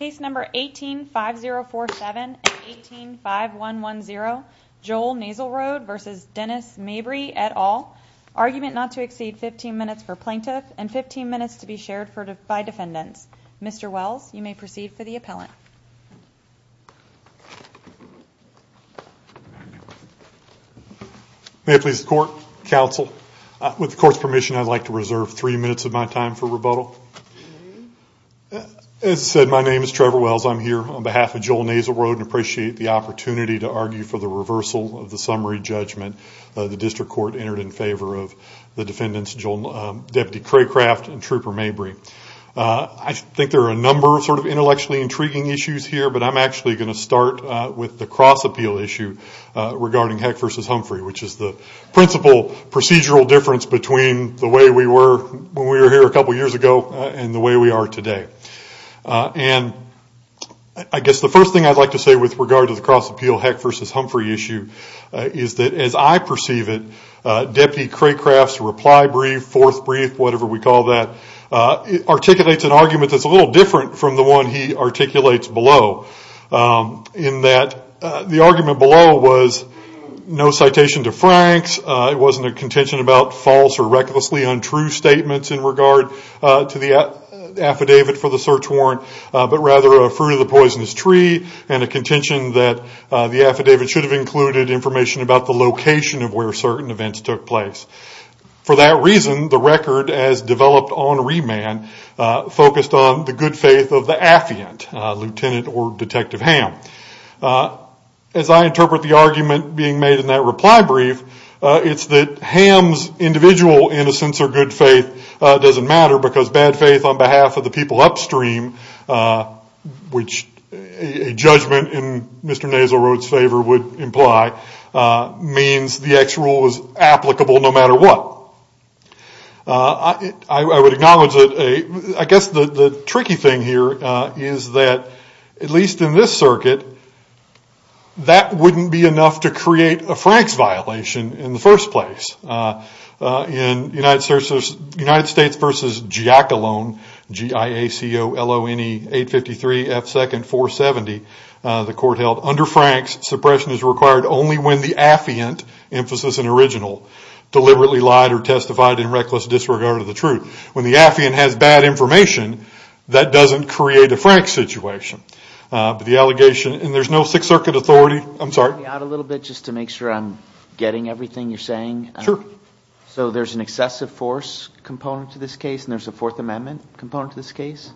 Case number 18-5047 and 18-5110, Joel Naselroad v. Dennis Mabry, et al. Argument not to exceed 15 minutes for plaintiff and 15 minutes to be shared by defendants. Mr. Wells, you may proceed for the appellant. May it please the court, counsel. With the court's permission, I'd like to reserve three minutes of my time for rebuttal. As said, my name is Trevor Wells. I'm here on behalf of Joel Naselroad and appreciate the opportunity to argue for the reversal of the summary judgment the district court entered in favor of the defendants, Deputy Craycraft and Trooper Mabry. I think there are a number of sort of intellectually intriguing issues here, but I'm actually going to start with the cross-appeal issue regarding Heck v. Humphrey, which is the principal procedural difference between the way we were when we were here a couple years ago and the way we are today. And I guess the first thing I'd like to say with regard to the cross-appeal Heck v. Humphrey issue is that as I perceive it, Deputy Craycraft's reply brief, fourth brief, whatever we call that, articulates an argument that's a little different from the one he articulates below in that the argument below was no citation to Franks. It wasn't a contention about false or recklessly untrue statements in regard to the affidavit for the search warrant, but rather a fruit of the poisonous tree and a contention that the affidavit should have included information about the location of where certain events took place. For that reason, the record as developed on remand focused on the good faith of the affiant, Lieutenant or Detective Ham. As I interpret the argument being made in that reply brief, it's that Ham's individual innocence or good faith doesn't matter because bad faith on behalf of the people upstream, which a judgment in Mr. Nasalroad's favor would imply, means the X rule is applicable no matter what. I would acknowledge that I guess the tricky thing here is that at least in this circuit, that wouldn't be enough to create a Franks violation in the first place. In United States v. Giacalone, G-I-A-C-O-L-O-N-E-8-53-F-2-4-70, the court held under Franks, suppression is required only when the affiant, emphasis in original, deliberately lied or testified in reckless disregard of the truth. When the affiant has bad information, that doesn't create a Franks situation. But the allegation, and there's no Sixth Circuit authority, I'm sorry? Can you help me out a little bit just to make sure I'm getting everything you're saying? Sure. So there's an excessive force component to this case and there's a Fourth Amendment component to this case?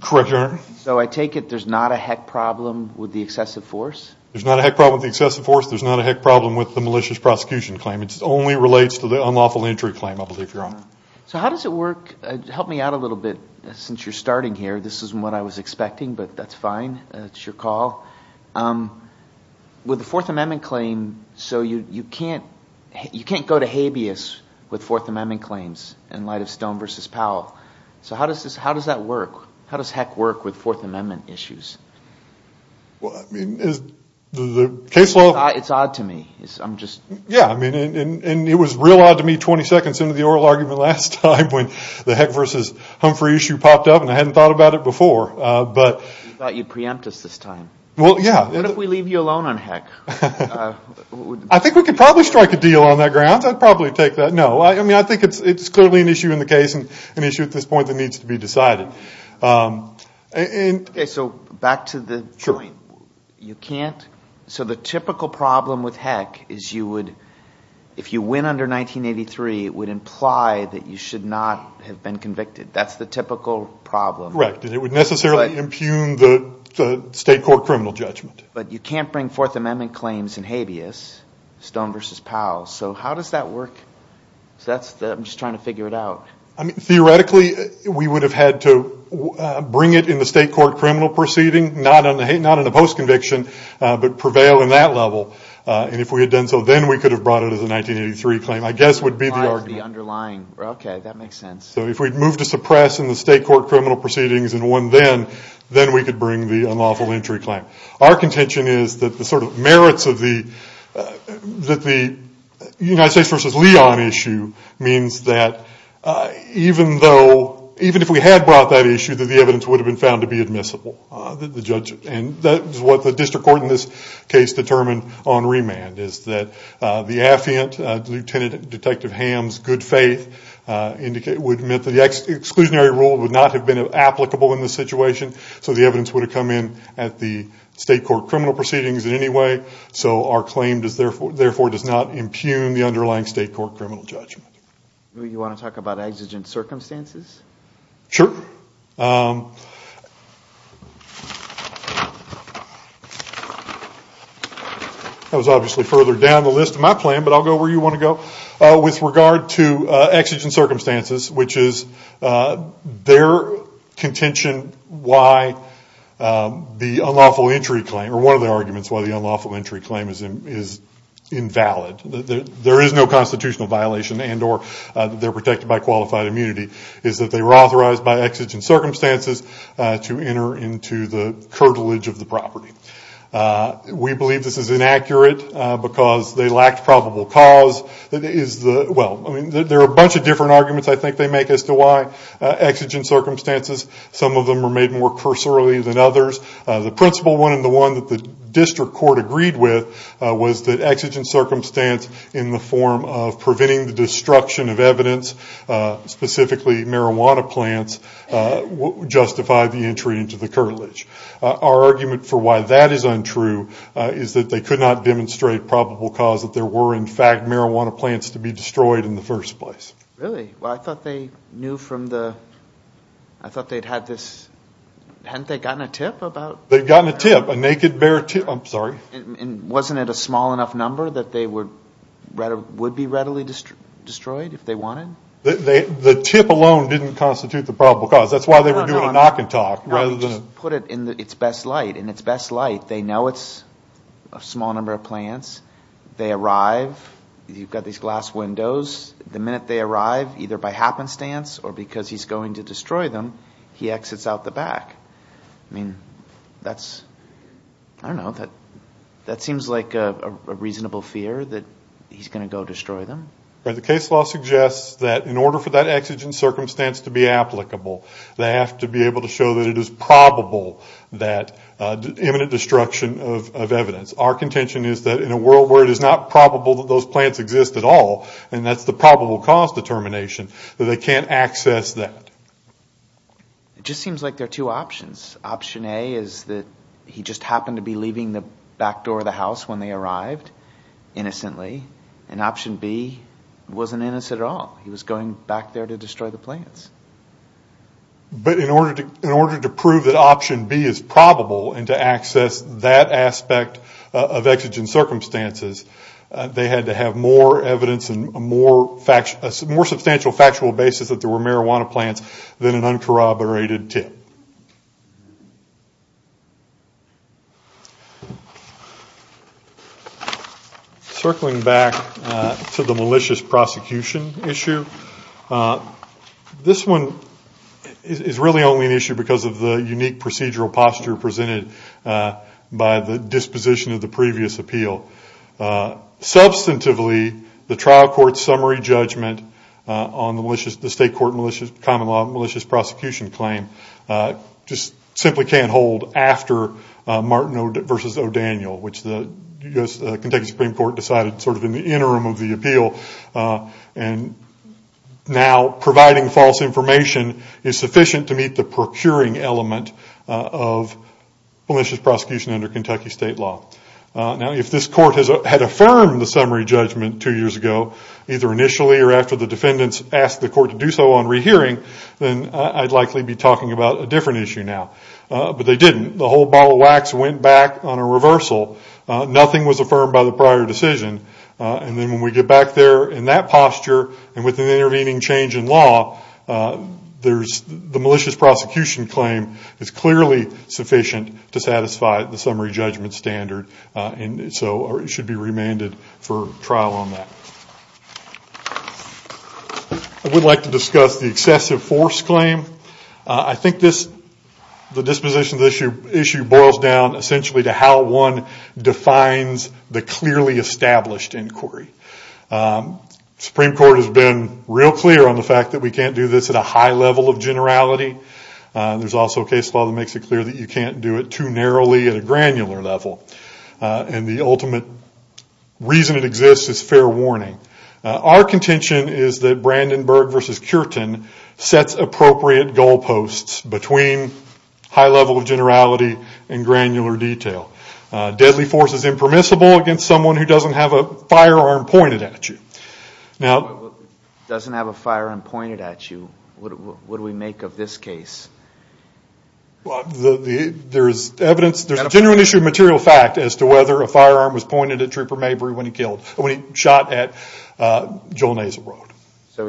Correct, Your Honor. So I take it there's not a heck problem with the excessive force? There's not a heck problem with the excessive force. There's not a heck problem with the malicious prosecution claim. It only relates to the unlawful entry claim, I believe, Your Honor. So how does it work? Help me out a little bit since you're starting here. This isn't what I was expecting, but that's fine. It's your call. With the Fourth Amendment claim, so you can't go to habeas with Fourth Amendment claims in light of Stone v. Powell. So how does that work? How does heck work with Fourth Amendment issues? Well, I mean, the case law… It's odd to me. I'm just… Yeah, I mean, and it was real odd to me 20 seconds into the oral argument last time when the heck v. Humphrey issue popped up, and I hadn't thought about it before, but… You thought you'd preempt us this time. Well, yeah. What if we leave you alone on heck? I think we could probably strike a deal on that grounds. I'd probably take that. No, I mean, I think it's clearly an issue in the case and an issue at this point that needs to be decided. Okay, so back to the point. Sure. You can't… So the typical problem with heck is you would… If you win under 1983, it would imply that you should not have been convicted. That's the typical problem. Correct, and it would necessarily impugn the state court criminal judgment. But you can't bring Fourth Amendment claims in habeas, Stone v. Powell. So how does that work? I'm just trying to figure it out. I mean, theoretically, we would have had to bring it in the state court criminal proceeding, not in a post-conviction, but prevail in that level. And if we had done so, then we could have brought it as a 1983 claim, I guess would be the argument. The underlying. Okay, that makes sense. So if we'd moved to suppress in the state court criminal proceedings and won then, then we could bring the unlawful entry claim. Our contention is that the sort of merits of the United States v. Leon issue means that even though, even if we had brought that issue, that the evidence would have been found to be admissible. And that is what the district court in this case determined on remand, is that the affiant, Lieutenant Detective Ham's good faith, would admit that the exclusionary rule would not have been applicable in this situation. So the evidence would have come in at the state court criminal proceedings in any way. So our claim, therefore, does not impugn the underlying state court criminal judgment. Do you want to talk about exigent circumstances? Sure. I was obviously further down the list in my plan, but I'll go where you want to go. With regard to exigent circumstances, which is their contention why the unlawful entry claim, or one of the arguments why the unlawful entry claim is invalid, there is no constitutional violation and or they're protected by qualified immunity, is that they were authorized by exigent circumstances to enter into the curtilage of the property. We believe this is inaccurate because they lacked probable cause. There are a bunch of different arguments I think they make as to why exigent circumstances, some of them are made more cursorily than others. The principle one and the one that the district court agreed with was that exigent circumstance in the form of preventing the destruction of evidence, specifically marijuana plants, would justify the entry into the curtilage. Our argument for why that is untrue is that they could not demonstrate probable cause, that there were in fact marijuana plants to be destroyed in the first place. Really? Well, I thought they knew from the, I thought they'd had this, hadn't they gotten a tip about? And wasn't it a small enough number that they would be readily destroyed if they wanted? The tip alone didn't constitute the probable cause. That's why they were doing a knock and talk rather than a. No, we just put it in its best light. In its best light, they know it's a small number of plants. They arrive. You've got these glass windows. The minute they arrive, either by happenstance or because he's going to destroy them, he exits out the back. I mean, that's, I don't know, that seems like a reasonable fear that he's going to go destroy them. The case law suggests that in order for that exigent circumstance to be applicable, they have to be able to show that it is probable that imminent destruction of evidence. Our contention is that in a world where it is not probable that those plants exist at all, and that's the probable cause determination, that they can't access that. It just seems like there are two options. Option A is that he just happened to be leaving the back door of the house when they arrived innocently, and option B wasn't innocent at all. He was going back there to destroy the plants. But in order to prove that option B is probable and to access that aspect of exigent circumstances, they had to have more evidence and a more substantial factual basis that there were marijuana plants than an uncorroborated tip. Circling back to the malicious prosecution issue, this one is really only an issue because of the unique procedural posture presented by the disposition of the previous appeal. Substantively, the trial court's summary judgment on the state court common law malicious prosecution claim just simply can't hold after Martin v. O'Daniel, which the Kentucky Supreme Court decided sort of in the interim of the appeal. And now providing false information is sufficient to meet the procuring element of malicious prosecution under Kentucky state law. Now, if this court had affirmed the summary judgment two years ago, either initially or after the defendants asked the court to do so on rehearing, then I'd likely be talking about a different issue now. But they didn't. The whole bottle of wax went back on a reversal. Nothing was affirmed by the prior decision. And then when we get back there in that posture and with an intervening change in law, the malicious prosecution claim is clearly sufficient to satisfy the summary judgment standard and so should be remanded for trial on that. I would like to discuss the excessive force claim. I think the disposition of the issue boils down essentially to how one defines the clearly established inquiry. Supreme Court has been real clear on the fact that we can't do this at a high level of generality. There's also a case law that makes it clear that you can't do it too narrowly at a granular level. And the ultimate reason it exists is fair warning. Our contention is that Brandenburg v. Cureton sets appropriate goal posts between high level of generality and granular detail. Deadly force is impermissible against someone who doesn't have a firearm pointed at you. Now- Doesn't have a firearm pointed at you, what do we make of this case? There's evidence, there's a genuine issue of material fact as to whether a firearm was pointed at Trooper Mabry when he shot at Joel Nasel Road. So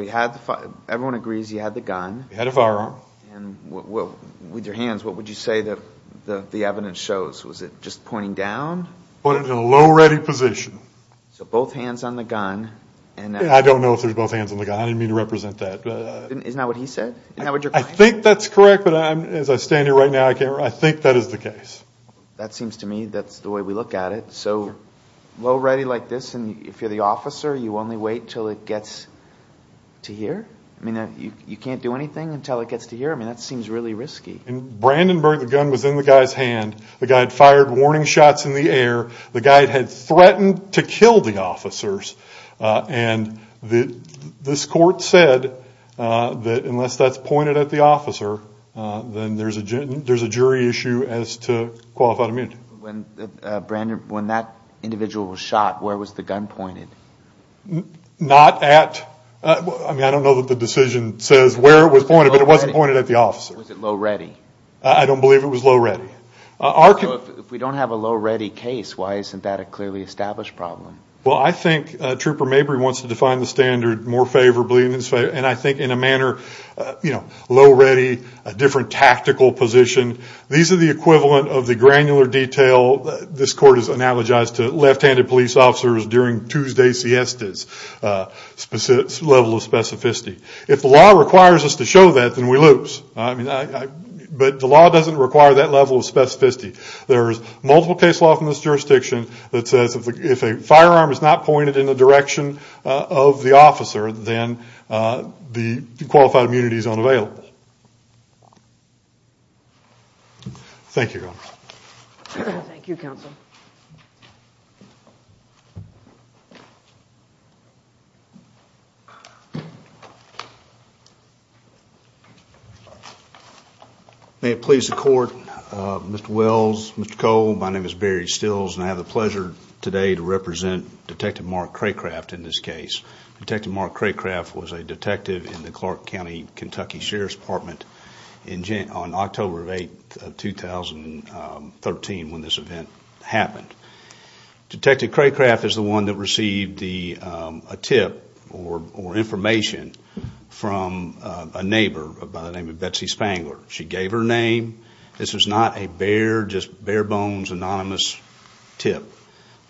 everyone agrees he had the gun. He had a firearm. And with your hands, what would you say the evidence shows? Was it just pointing down? Pointed in a low ready position. So both hands on the gun and- I don't know if there's both hands on the gun. I didn't mean to represent that. Isn't that what he said? I think that's correct, but as I stand here right now I can't remember. I think that is the case. That seems to me that's the way we look at it. So low ready like this and if you're the officer you only wait until it gets to here? I mean you can't do anything until it gets to here? I mean that seems really risky. In Brandenburg the gun was in the guy's hand. The guy had fired warning shots in the air. The guy had threatened to kill the officers. And this court said that unless that's pointed at the officer, then there's a jury issue as to qualified immunity. When that individual was shot, where was the gun pointed? Not at-I mean I don't know that the decision says where it was pointed, but it wasn't pointed at the officer. Was it low ready? I don't believe it was low ready. If we don't have a low ready case, why isn't that a clearly established problem? Well, I think Trooper Mabry wants to define the standard more favorably and I think in a manner, you know, low ready, a different tactical position. These are the equivalent of the granular detail this court has analogized to left-handed police officers during Tuesday siestas level of specificity. If the law requires us to show that, then we lose. But the law doesn't require that level of specificity. There's multiple case law from this jurisdiction that says if a firearm is not pointed in the direction of the officer, then the qualified immunity is unavailable. Thank you, Your Honor. Thank you, Counsel. May it please the Court, Mr. Wells, Mr. Cole, my name is Barry Stills and I have the pleasure today to represent Detective Mark Craycraft in this case. Detective Mark Craycraft was a detective in the Clark County, Kentucky Sheriff's Department on October 8, 2013 when this event happened. Detective Craycraft is the one that received a tip or information from a neighbor by the name of Betsy Spangler. She gave her name. This was not a bare, just bare bones, anonymous tip.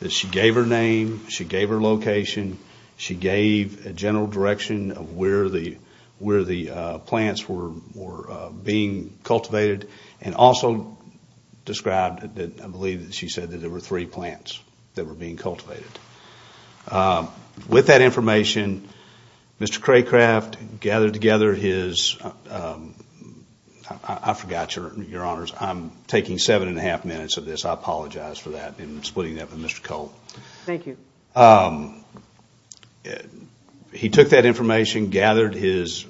She gave her name. She gave her location. She gave a general direction of where the plants were being cultivated and also described, I believe she said that there were three plants that were being cultivated. With that information, Mr. Craycraft gathered together his, I forgot, Your Honors, I'm taking seven and a half minutes of this. I apologize for that and splitting that with Mr. Cole. Thank you. He took that information, gathered his,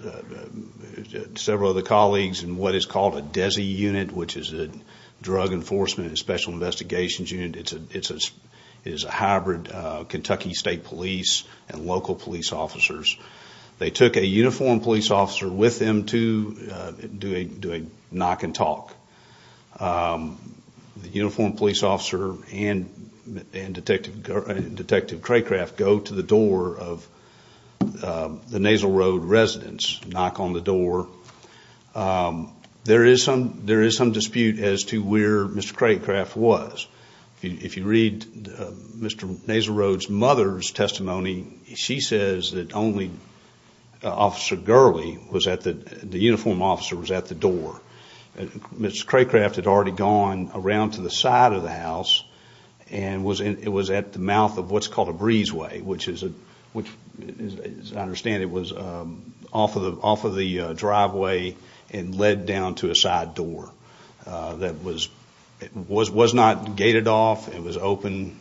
several of the colleagues in what is called a DESI unit, which is a Drug Enforcement and Special Investigations Unit. It is a hybrid Kentucky State Police and local police officers. They took a uniformed police officer with them to do a knock and talk. The uniformed police officer and Detective Craycraft go to the door of the Nasal Road residence, knock on the door. There is some dispute as to where Mr. Craycraft was. If you read Mr. Nasal Road's mother's testimony, she says that only Officer Gurley, the uniformed officer, was at the door. Mr. Craycraft had already gone around to the side of the house and was at the mouth of what's called a breezeway, which, as I understand it, was off of the driveway and led down to a side door. It was not gated off. It was open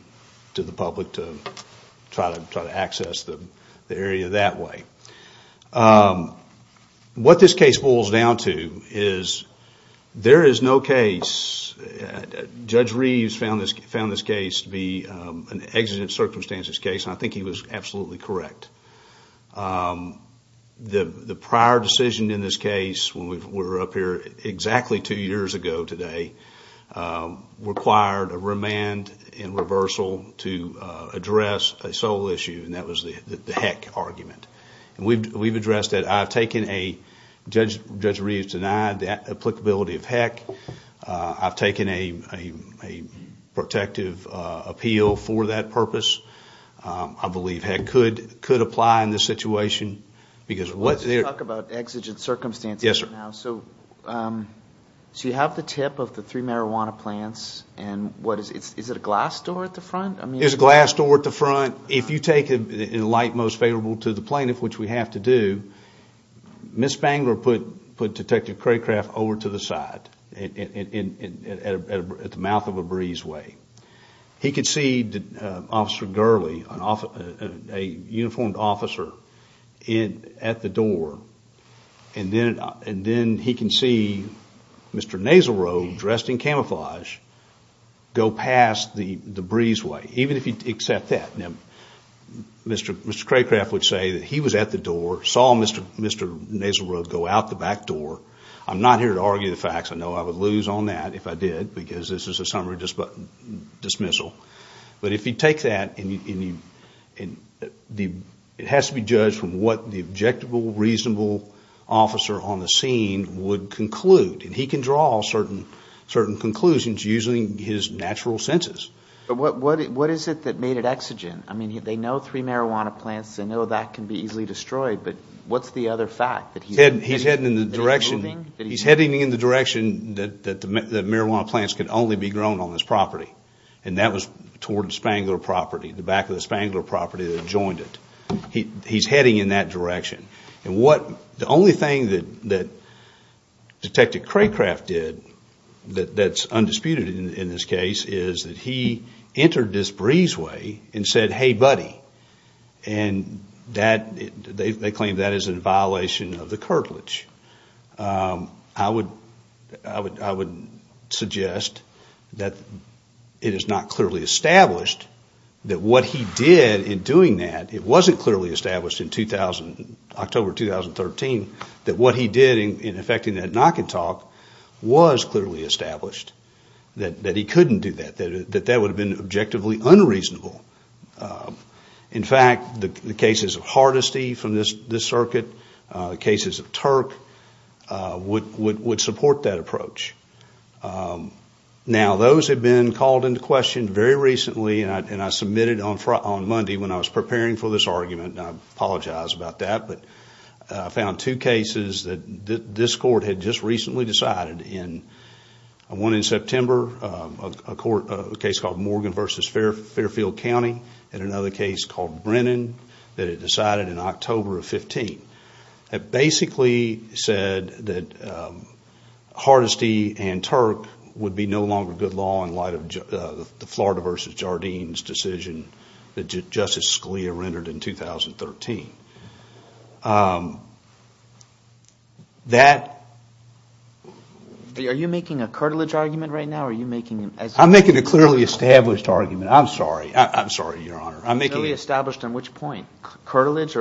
to the public to try to access the area that way. What this case boils down to is there is no case. Judge Reeves found this case to be an exigent circumstances case, and I think he was absolutely correct. The prior decision in this case, when we were up here exactly two years ago today, required a remand and reversal to address a sole issue, and that was the heck argument. We've addressed that. Judge Reeves denied the applicability of heck. I've taken a protective appeal for that purpose. I believe heck could apply in this situation. Let's talk about exigent circumstances now. Yes, sir. You have the tip of the three marijuana plants. Is it a glass door at the front? It's a glass door at the front. If you take it in a light most favorable to the plaintiff, which we have to do, Ms. Bangler put Detective Craycraft over to the side at the mouth of a breezeway. He could see Officer Gurley, a uniformed officer, at the door, and then he can see Mr. Naslerow dressed in camouflage go past the breezeway, even if he'd accept that. Mr. Craycraft would say that he was at the door, saw Mr. Naslerow go out the back door. I'm not here to argue the facts. I know I would lose on that if I did, because this is a summary dismissal. But if you take that, it has to be judged from what the objectable, reasonable officer on the scene would conclude. He can draw certain conclusions using his natural senses. But what is it that made it exigent? I mean, they know three marijuana plants. They know that can be easily destroyed. But what's the other fact? He's heading in the direction that marijuana plants can only be grown on this property, and that was toward the Spangler property, the back of the Spangler property that joined it. He's heading in that direction. And the only thing that Detective Craycraft did that's undisputed in this case is that he entered this breezeway and said, hey, buddy. And they claim that is in violation of the curtilage. I would suggest that it is not clearly established that what he did in doing that, it wasn't clearly established in October 2013, that what he did in effecting that knock and talk was clearly established, that he couldn't do that, that that would have been objectively unreasonable. In fact, the cases of Hardesty from this circuit, the cases of Turk, would support that approach. Now, those have been called into question very recently, and I submitted on Monday when I was preparing for this argument, and I apologize about that, but I found two cases that this court had just recently decided. One in September, a case called Morgan v. Fairfield County, and another case called Brennan that it decided in October of 2015. It basically said that Hardesty and Turk would be no longer good law in light of the Florida v. Jardines decision that Justice Scalia rendered in 2013. That... Are you making a curtilage argument right now, or are you making... I'm making a clearly established argument. I'm sorry. I'm sorry, Your Honor. Clearly established on which point? Curtilage.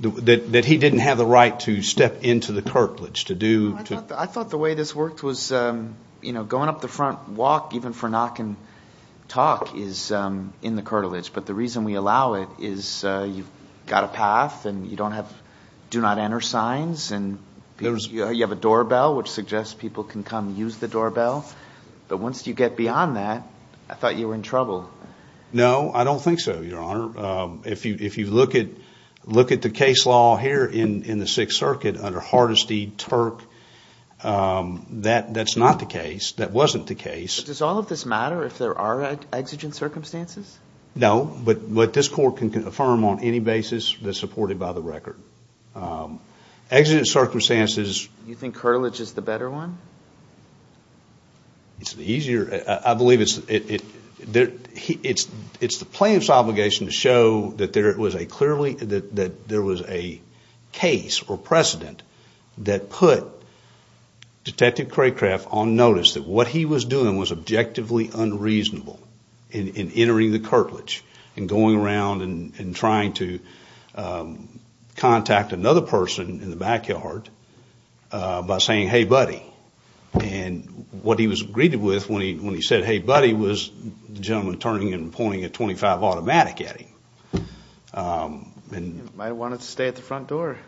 That he didn't have the right to step into the curtilage to do... I thought the way this worked was going up the front walk, even for knock and talk, is in the curtilage, but the reason we allow it is you've got a path, and you don't have do not enter signs, and you have a doorbell, which suggests people can come use the doorbell. But once you get beyond that, I thought you were in trouble. No, I don't think so, Your Honor. If you look at the case law here in the Sixth Circuit under Hardesty, Turk, that's not the case. That wasn't the case. Does all of this matter if there are exigent circumstances? No, but this court can confirm on any basis that's supported by the record. Exigent circumstances... You think curtilage is the better one? It's the easier... I believe it's the plaintiff's obligation to show that there was a case or precedent that put Detective Craycraft on notice that what he was doing was objectively unreasonable in entering the curtilage and going around and trying to contact another person in the backyard by saying, hey, buddy. And what he was greeted with when he said, hey, buddy, was the gentleman turning and pointing a .25 automatic at him. Might have wanted to stay at the front door.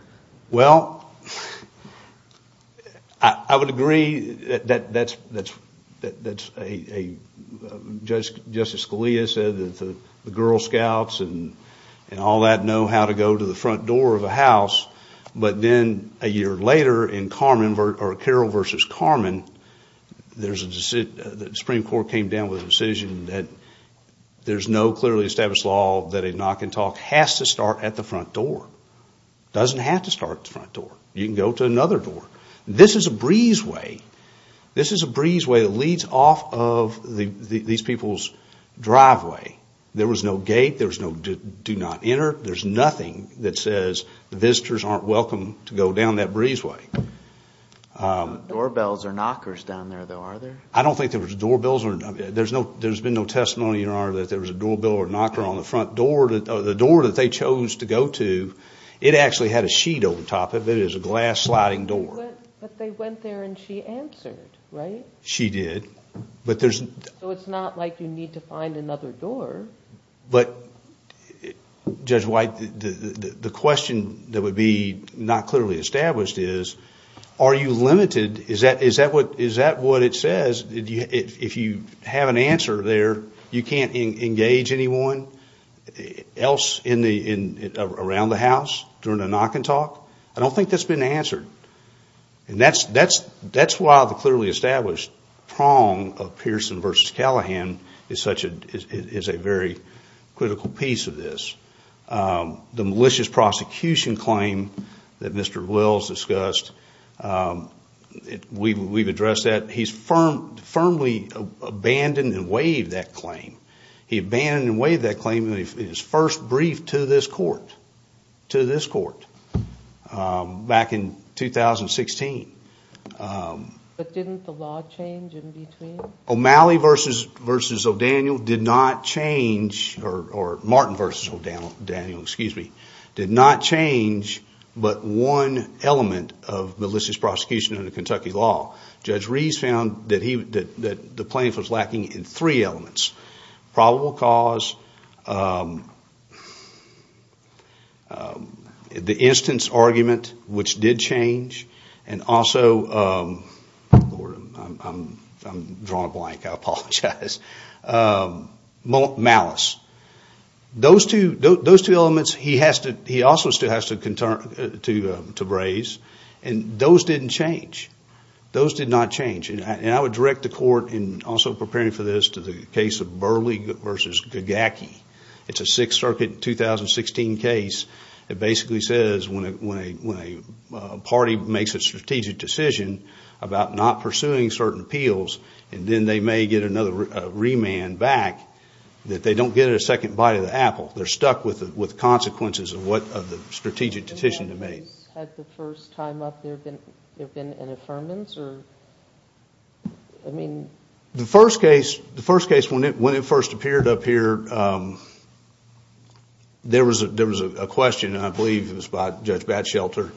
Well, I would agree that's a... Justice Scalia said that the Girl Scouts and all that know how to go to the front door of a house, but then a year later in Carroll v. Carman, the Supreme Court came down with a decision that there's no clearly established law that a knock and talk has to start at the front door. It doesn't have to start at the front door. You can go to another door. This is a breezeway. This is a breezeway that leads off of these people's driveway. There was no gate. There was no do not enter. There's nothing that says visitors aren't welcome to go down that breezeway. Doorbells or knockers down there, though, are there? I don't think there was doorbells. There's been no testimony, Your Honor, that there was a doorbell or knocker on the front door. The door that they chose to go to, it actually had a sheet over top of it. It was a glass sliding door. But they went there and she answered, right? She did. So it's not like you need to find another door. But, Judge White, the question that would be not clearly established is are you limited? Is that what it says? If you have an answer there, you can't engage anyone else around the house during a knock and talk? I don't think that's been answered. That's why the clearly established prong of Pearson v. Callahan is a very critical piece of this. The malicious prosecution claim that Mr. Wills discussed, we've addressed that. He's firmly abandoned and waived that claim. He abandoned and waived that claim in his first brief to this court back in 2016. But didn't the law change in between? O'Malley v. O'Daniel did not change, or Martin v. O'Daniel, excuse me, did not change but one element of malicious prosecution under Kentucky law. Judge Reeves found that the plaintiff was lacking in three elements. Probable cause. The instance argument, which did change. And also, I'm drawing a blank, I apologize. Malice. Those two elements he also still has to braze. And those didn't change. Those did not change. And I would direct the court in also preparing for this to the case of Burley v. Gagaki. It's a Sixth Circuit 2016 case that basically says when a party makes a strategic decision about not pursuing certain appeals and then they may get another remand back, that they don't get a second bite of the apple. They're stuck with consequences of what the strategic decision to make. Has the first time up there been an affirmance? The first case, when it first appeared up here, there was a question, and I believe it was by Judge Batshelter,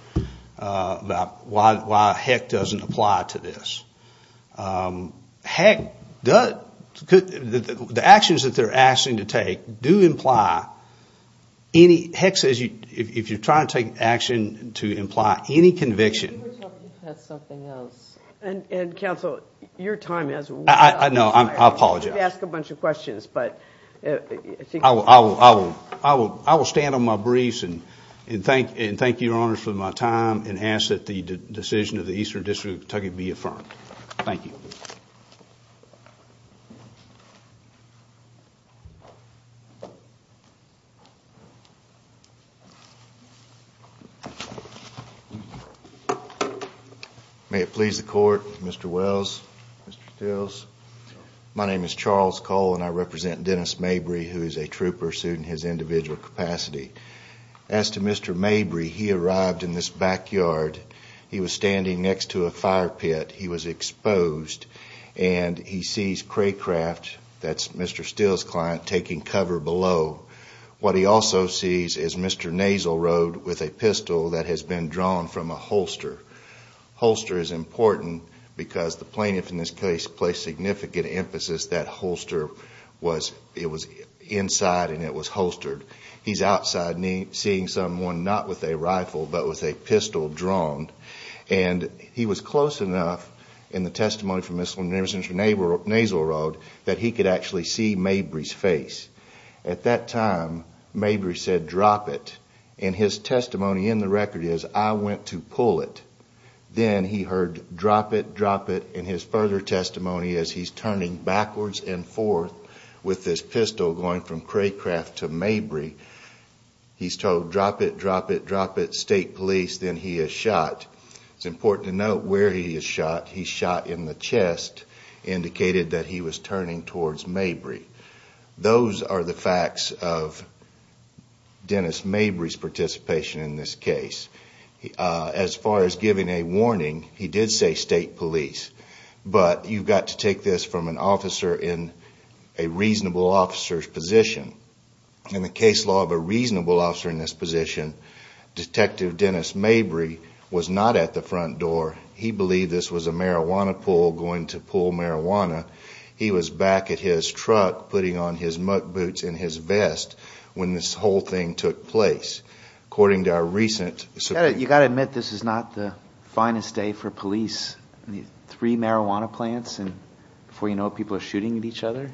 about why heck doesn't apply to this. Heck does. The actions that they're asking to take do imply any, Heck says if you're trying to take action to imply any conviction. And counsel, your time has run out. No, I apologize. You have to ask a bunch of questions. I will stand on my briefs and thank your honors for my time and ask that the decision of the Eastern District of Kentucky be affirmed. Thank you. Thank you. May it please the court, Mr. Wells, Mr. Stills. My name is Charles Cole and I represent Dennis Mabry, who is a trooper sued in his individual capacity. As to Mr. Mabry, he arrived in this backyard. He was standing next to a fire pit. He was exposed and he sees Craycraft, that's Mr. Stills' client, taking cover below. What he also sees is Mr. Nasalroad with a pistol that has been drawn from a holster. Holster is important because the plaintiff, in this case, placed significant emphasis that holster was inside and it was holstered. He's outside seeing someone not with a rifle but with a pistol drawn. And he was close enough in the testimony from Mr. Nasalroad that he could actually see Mabry's face. At that time, Mabry said, drop it. And his testimony in the record is, I went to pull it. Then he heard drop it, drop it. And his further testimony is he's turning backwards and forth with this pistol going from Craycraft to Mabry. He's told drop it, drop it, drop it, state police, then he is shot. It's important to note where he is shot. He's shot in the chest, indicated that he was turning towards Mabry. Those are the facts of Dennis Mabry's participation in this case. As far as giving a warning, he did say state police. But you've got to take this from an officer in a reasonable officer's position. In the case law of a reasonable officer in this position, Detective Dennis Mabry was not at the front door. He believed this was a marijuana pull going to pull marijuana. He was back at his truck putting on his muck boots and his vest when this whole thing took place. According to our recent... You've got to admit this is not the finest day for police. Three marijuana plants and before you know it, people are shooting at each other.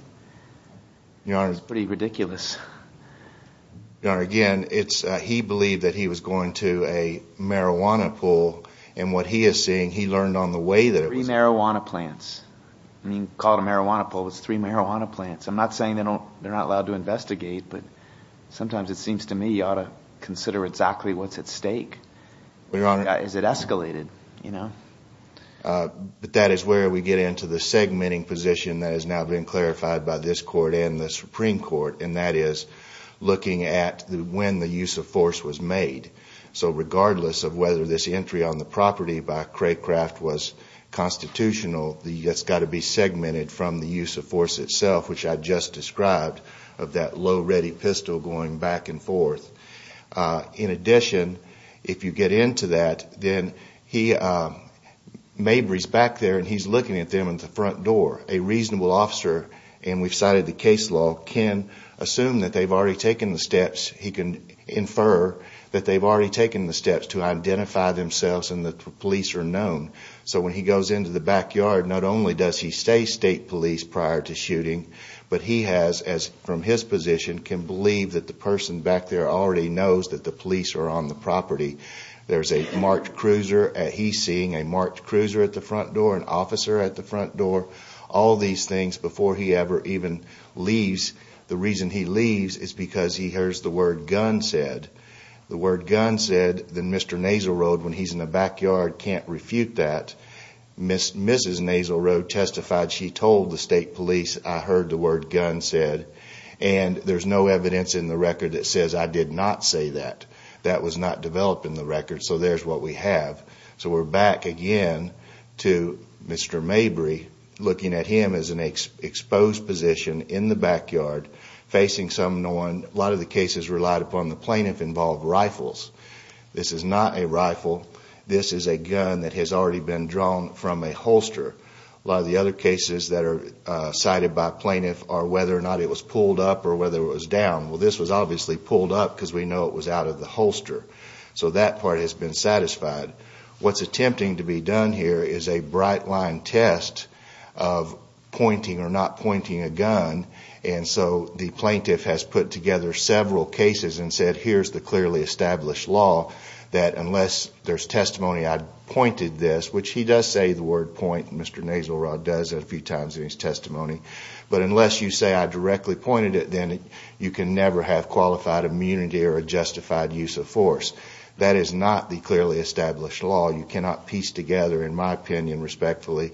It's pretty ridiculous. Your Honor, again, he believed that he was going to a marijuana pull. And what he is saying, he learned on the way that it was... Three marijuana plants. I mean, call it a marijuana pull, it's three marijuana plants. I'm not saying they're not allowed to investigate, but sometimes it seems to me you ought to consider exactly what's at stake. Is it escalated, you know? But that is where we get into the segmenting position that has now been clarified by this Court and the Supreme Court, and that is looking at when the use of force was made. So regardless of whether this entry on the property by Craycraft was constitutional, it's got to be segmented from the use of force itself, which I just described of that low-ready pistol going back and forth. In addition, if you get into that, then he... Mabry's back there and he's looking at them at the front door. A reasonable officer, and we've cited the case law, can assume that they've already taken the steps. He can infer that they've already taken the steps to identify themselves and that the police are known. So when he goes into the backyard, not only does he stay state police prior to shooting, but he has, from his position, can believe that the person back there already knows that the police are on the property. There's a marked cruiser. He's seeing a marked cruiser at the front door, an officer at the front door, all these things before he ever even leaves. The reason he leaves is because he hears the word gun said. The word gun said, then Mr. Naselrode, when he's in the backyard, can't refute that. Mrs. Naselrode testified she told the state police, I heard the word gun said. And there's no evidence in the record that says I did not say that. That was not developed in the record, so there's what we have. So we're back again to Mr. Mabry, looking at him as an exposed position in the backyard facing someone. A lot of the cases relied upon the plaintiff involved rifles. This is not a rifle. This is a gun that has already been drawn from a holster. A lot of the other cases that are cited by plaintiffs are whether or not it was pulled up or whether it was down. Well, this was obviously pulled up because we know it was out of the holster. So that part has been satisfied. What's attempting to be done here is a bright-line test of pointing or not pointing a gun. And so the plaintiff has put together several cases and said, here's the clearly established law that unless there's testimony I pointed this, which he does say the word point, Mr. Naselrode does it a few times in his testimony, but unless you say I directly pointed it, then you can never have qualified immunity or a justified use of force. That is not the clearly established law. You cannot piece together, in my opinion respectfully,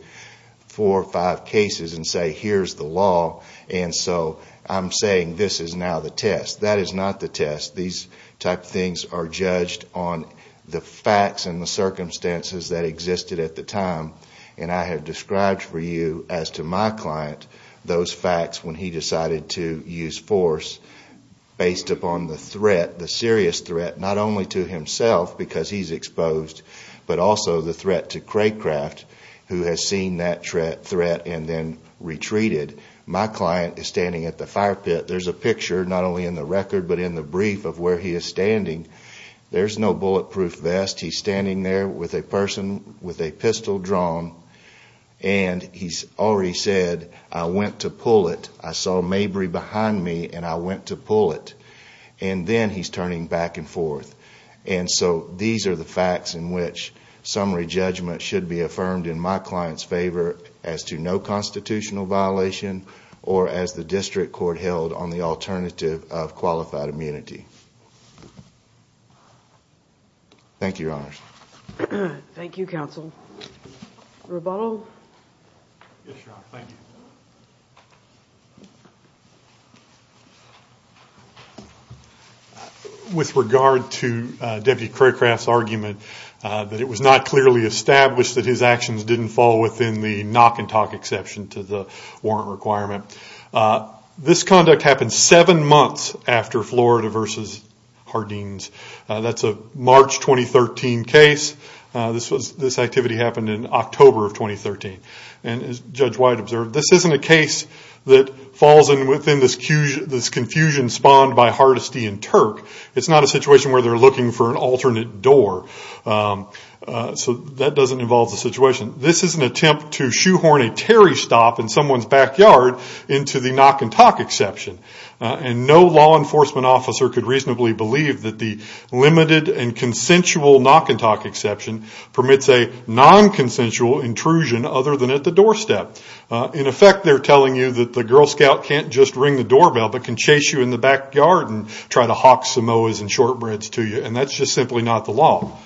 four or five cases and say here's the law and so I'm saying this is now the test. That is not the test. These type of things are judged on the facts and the circumstances that existed at the time. And I have described for you as to my client those facts when he decided to use force based upon the threat, the serious threat, not only to himself because he's exposed, but also the threat to Craycraft who has seen that threat and then retreated. My client is standing at the fire pit. There's a picture not only in the record but in the brief of where he is standing. There's no bulletproof vest. He's standing there with a person with a pistol drawn. And he's already said, I went to pull it. I saw Mabry behind me and I went to pull it. And then he's turning back and forth. And so these are the facts in which summary judgment should be affirmed in my client's favor as to no constitutional violation or as the district court held on the alternative of qualified immunity. Thank you, Your Honors. Thank you, Counsel. Rebuttal? Yes, Your Honor. Thank you. With regard to Deputy Craycraft's argument that it was not clearly established that his actions didn't fall within the knock and talk exception to the warrant requirement, this conduct happened seven months after Florida v. Hardeen's. That's a March 2013 case. This activity happened in October of 2013. And as Judge White observed, this isn't a case that falls within this confusion spawned by Hardesty and Turk. It's not a situation where they're looking for an alternate door. So that doesn't involve the situation. This is an attempt to shoehorn a Terry stop in someone's backyard into the knock and talk exception. And no law enforcement officer could reasonably believe that the limited and consensual knock and talk exception permits a non-consensual intrusion other than at the doorstep. In effect, they're telling you that the Girl Scout can't just ring the doorbell but can chase you in the backyard and try to hawk Samoas and shortbreads to you. And that's just simply not the law.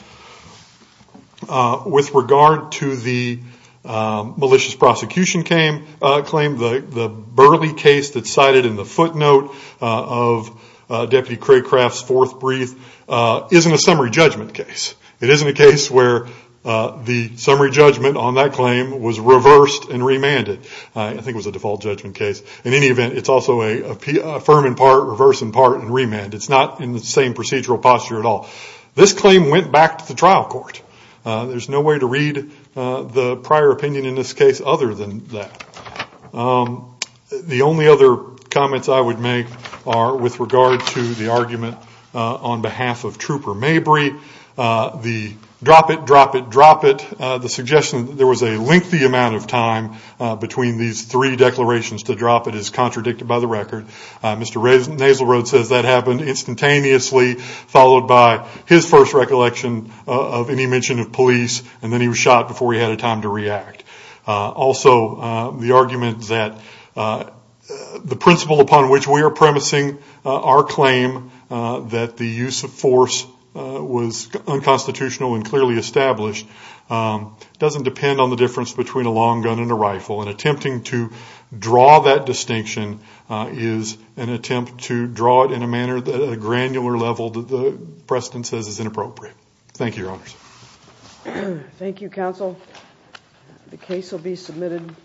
With regard to the malicious prosecution claim, the Burley case that's cited in the footnote of Deputy Craycraft's fourth brief isn't a summary judgment case. It isn't a case where the summary judgment on that claim was reversed and remanded. I think it was a default judgment case. In any event, it's also a firm in part, reverse in part, and remand. It's not in the same procedural posture at all. This claim went back to the trial court. There's no way to read the prior opinion in this case other than that. The only other comments I would make are with regard to the argument on behalf of Trooper Mabry. The drop it, drop it, drop it, the suggestion that there was a lengthy amount of time between these three declarations to drop it is contradicted by the record. Mr. Naslerod says that happened instantaneously, followed by his first recollection of any mention of police, and then he was shot before he had a time to react. Also, the argument that the principle upon which we are premising our claim that the use of force was unconstitutional and clearly established doesn't depend on the difference between a long gun and a rifle. And attempting to draw that distinction is an attempt to draw it in a manner that at a granular level that the precedent says is inappropriate. Thank you, Your Honors. Thank you, Counsel. The case will be submitted.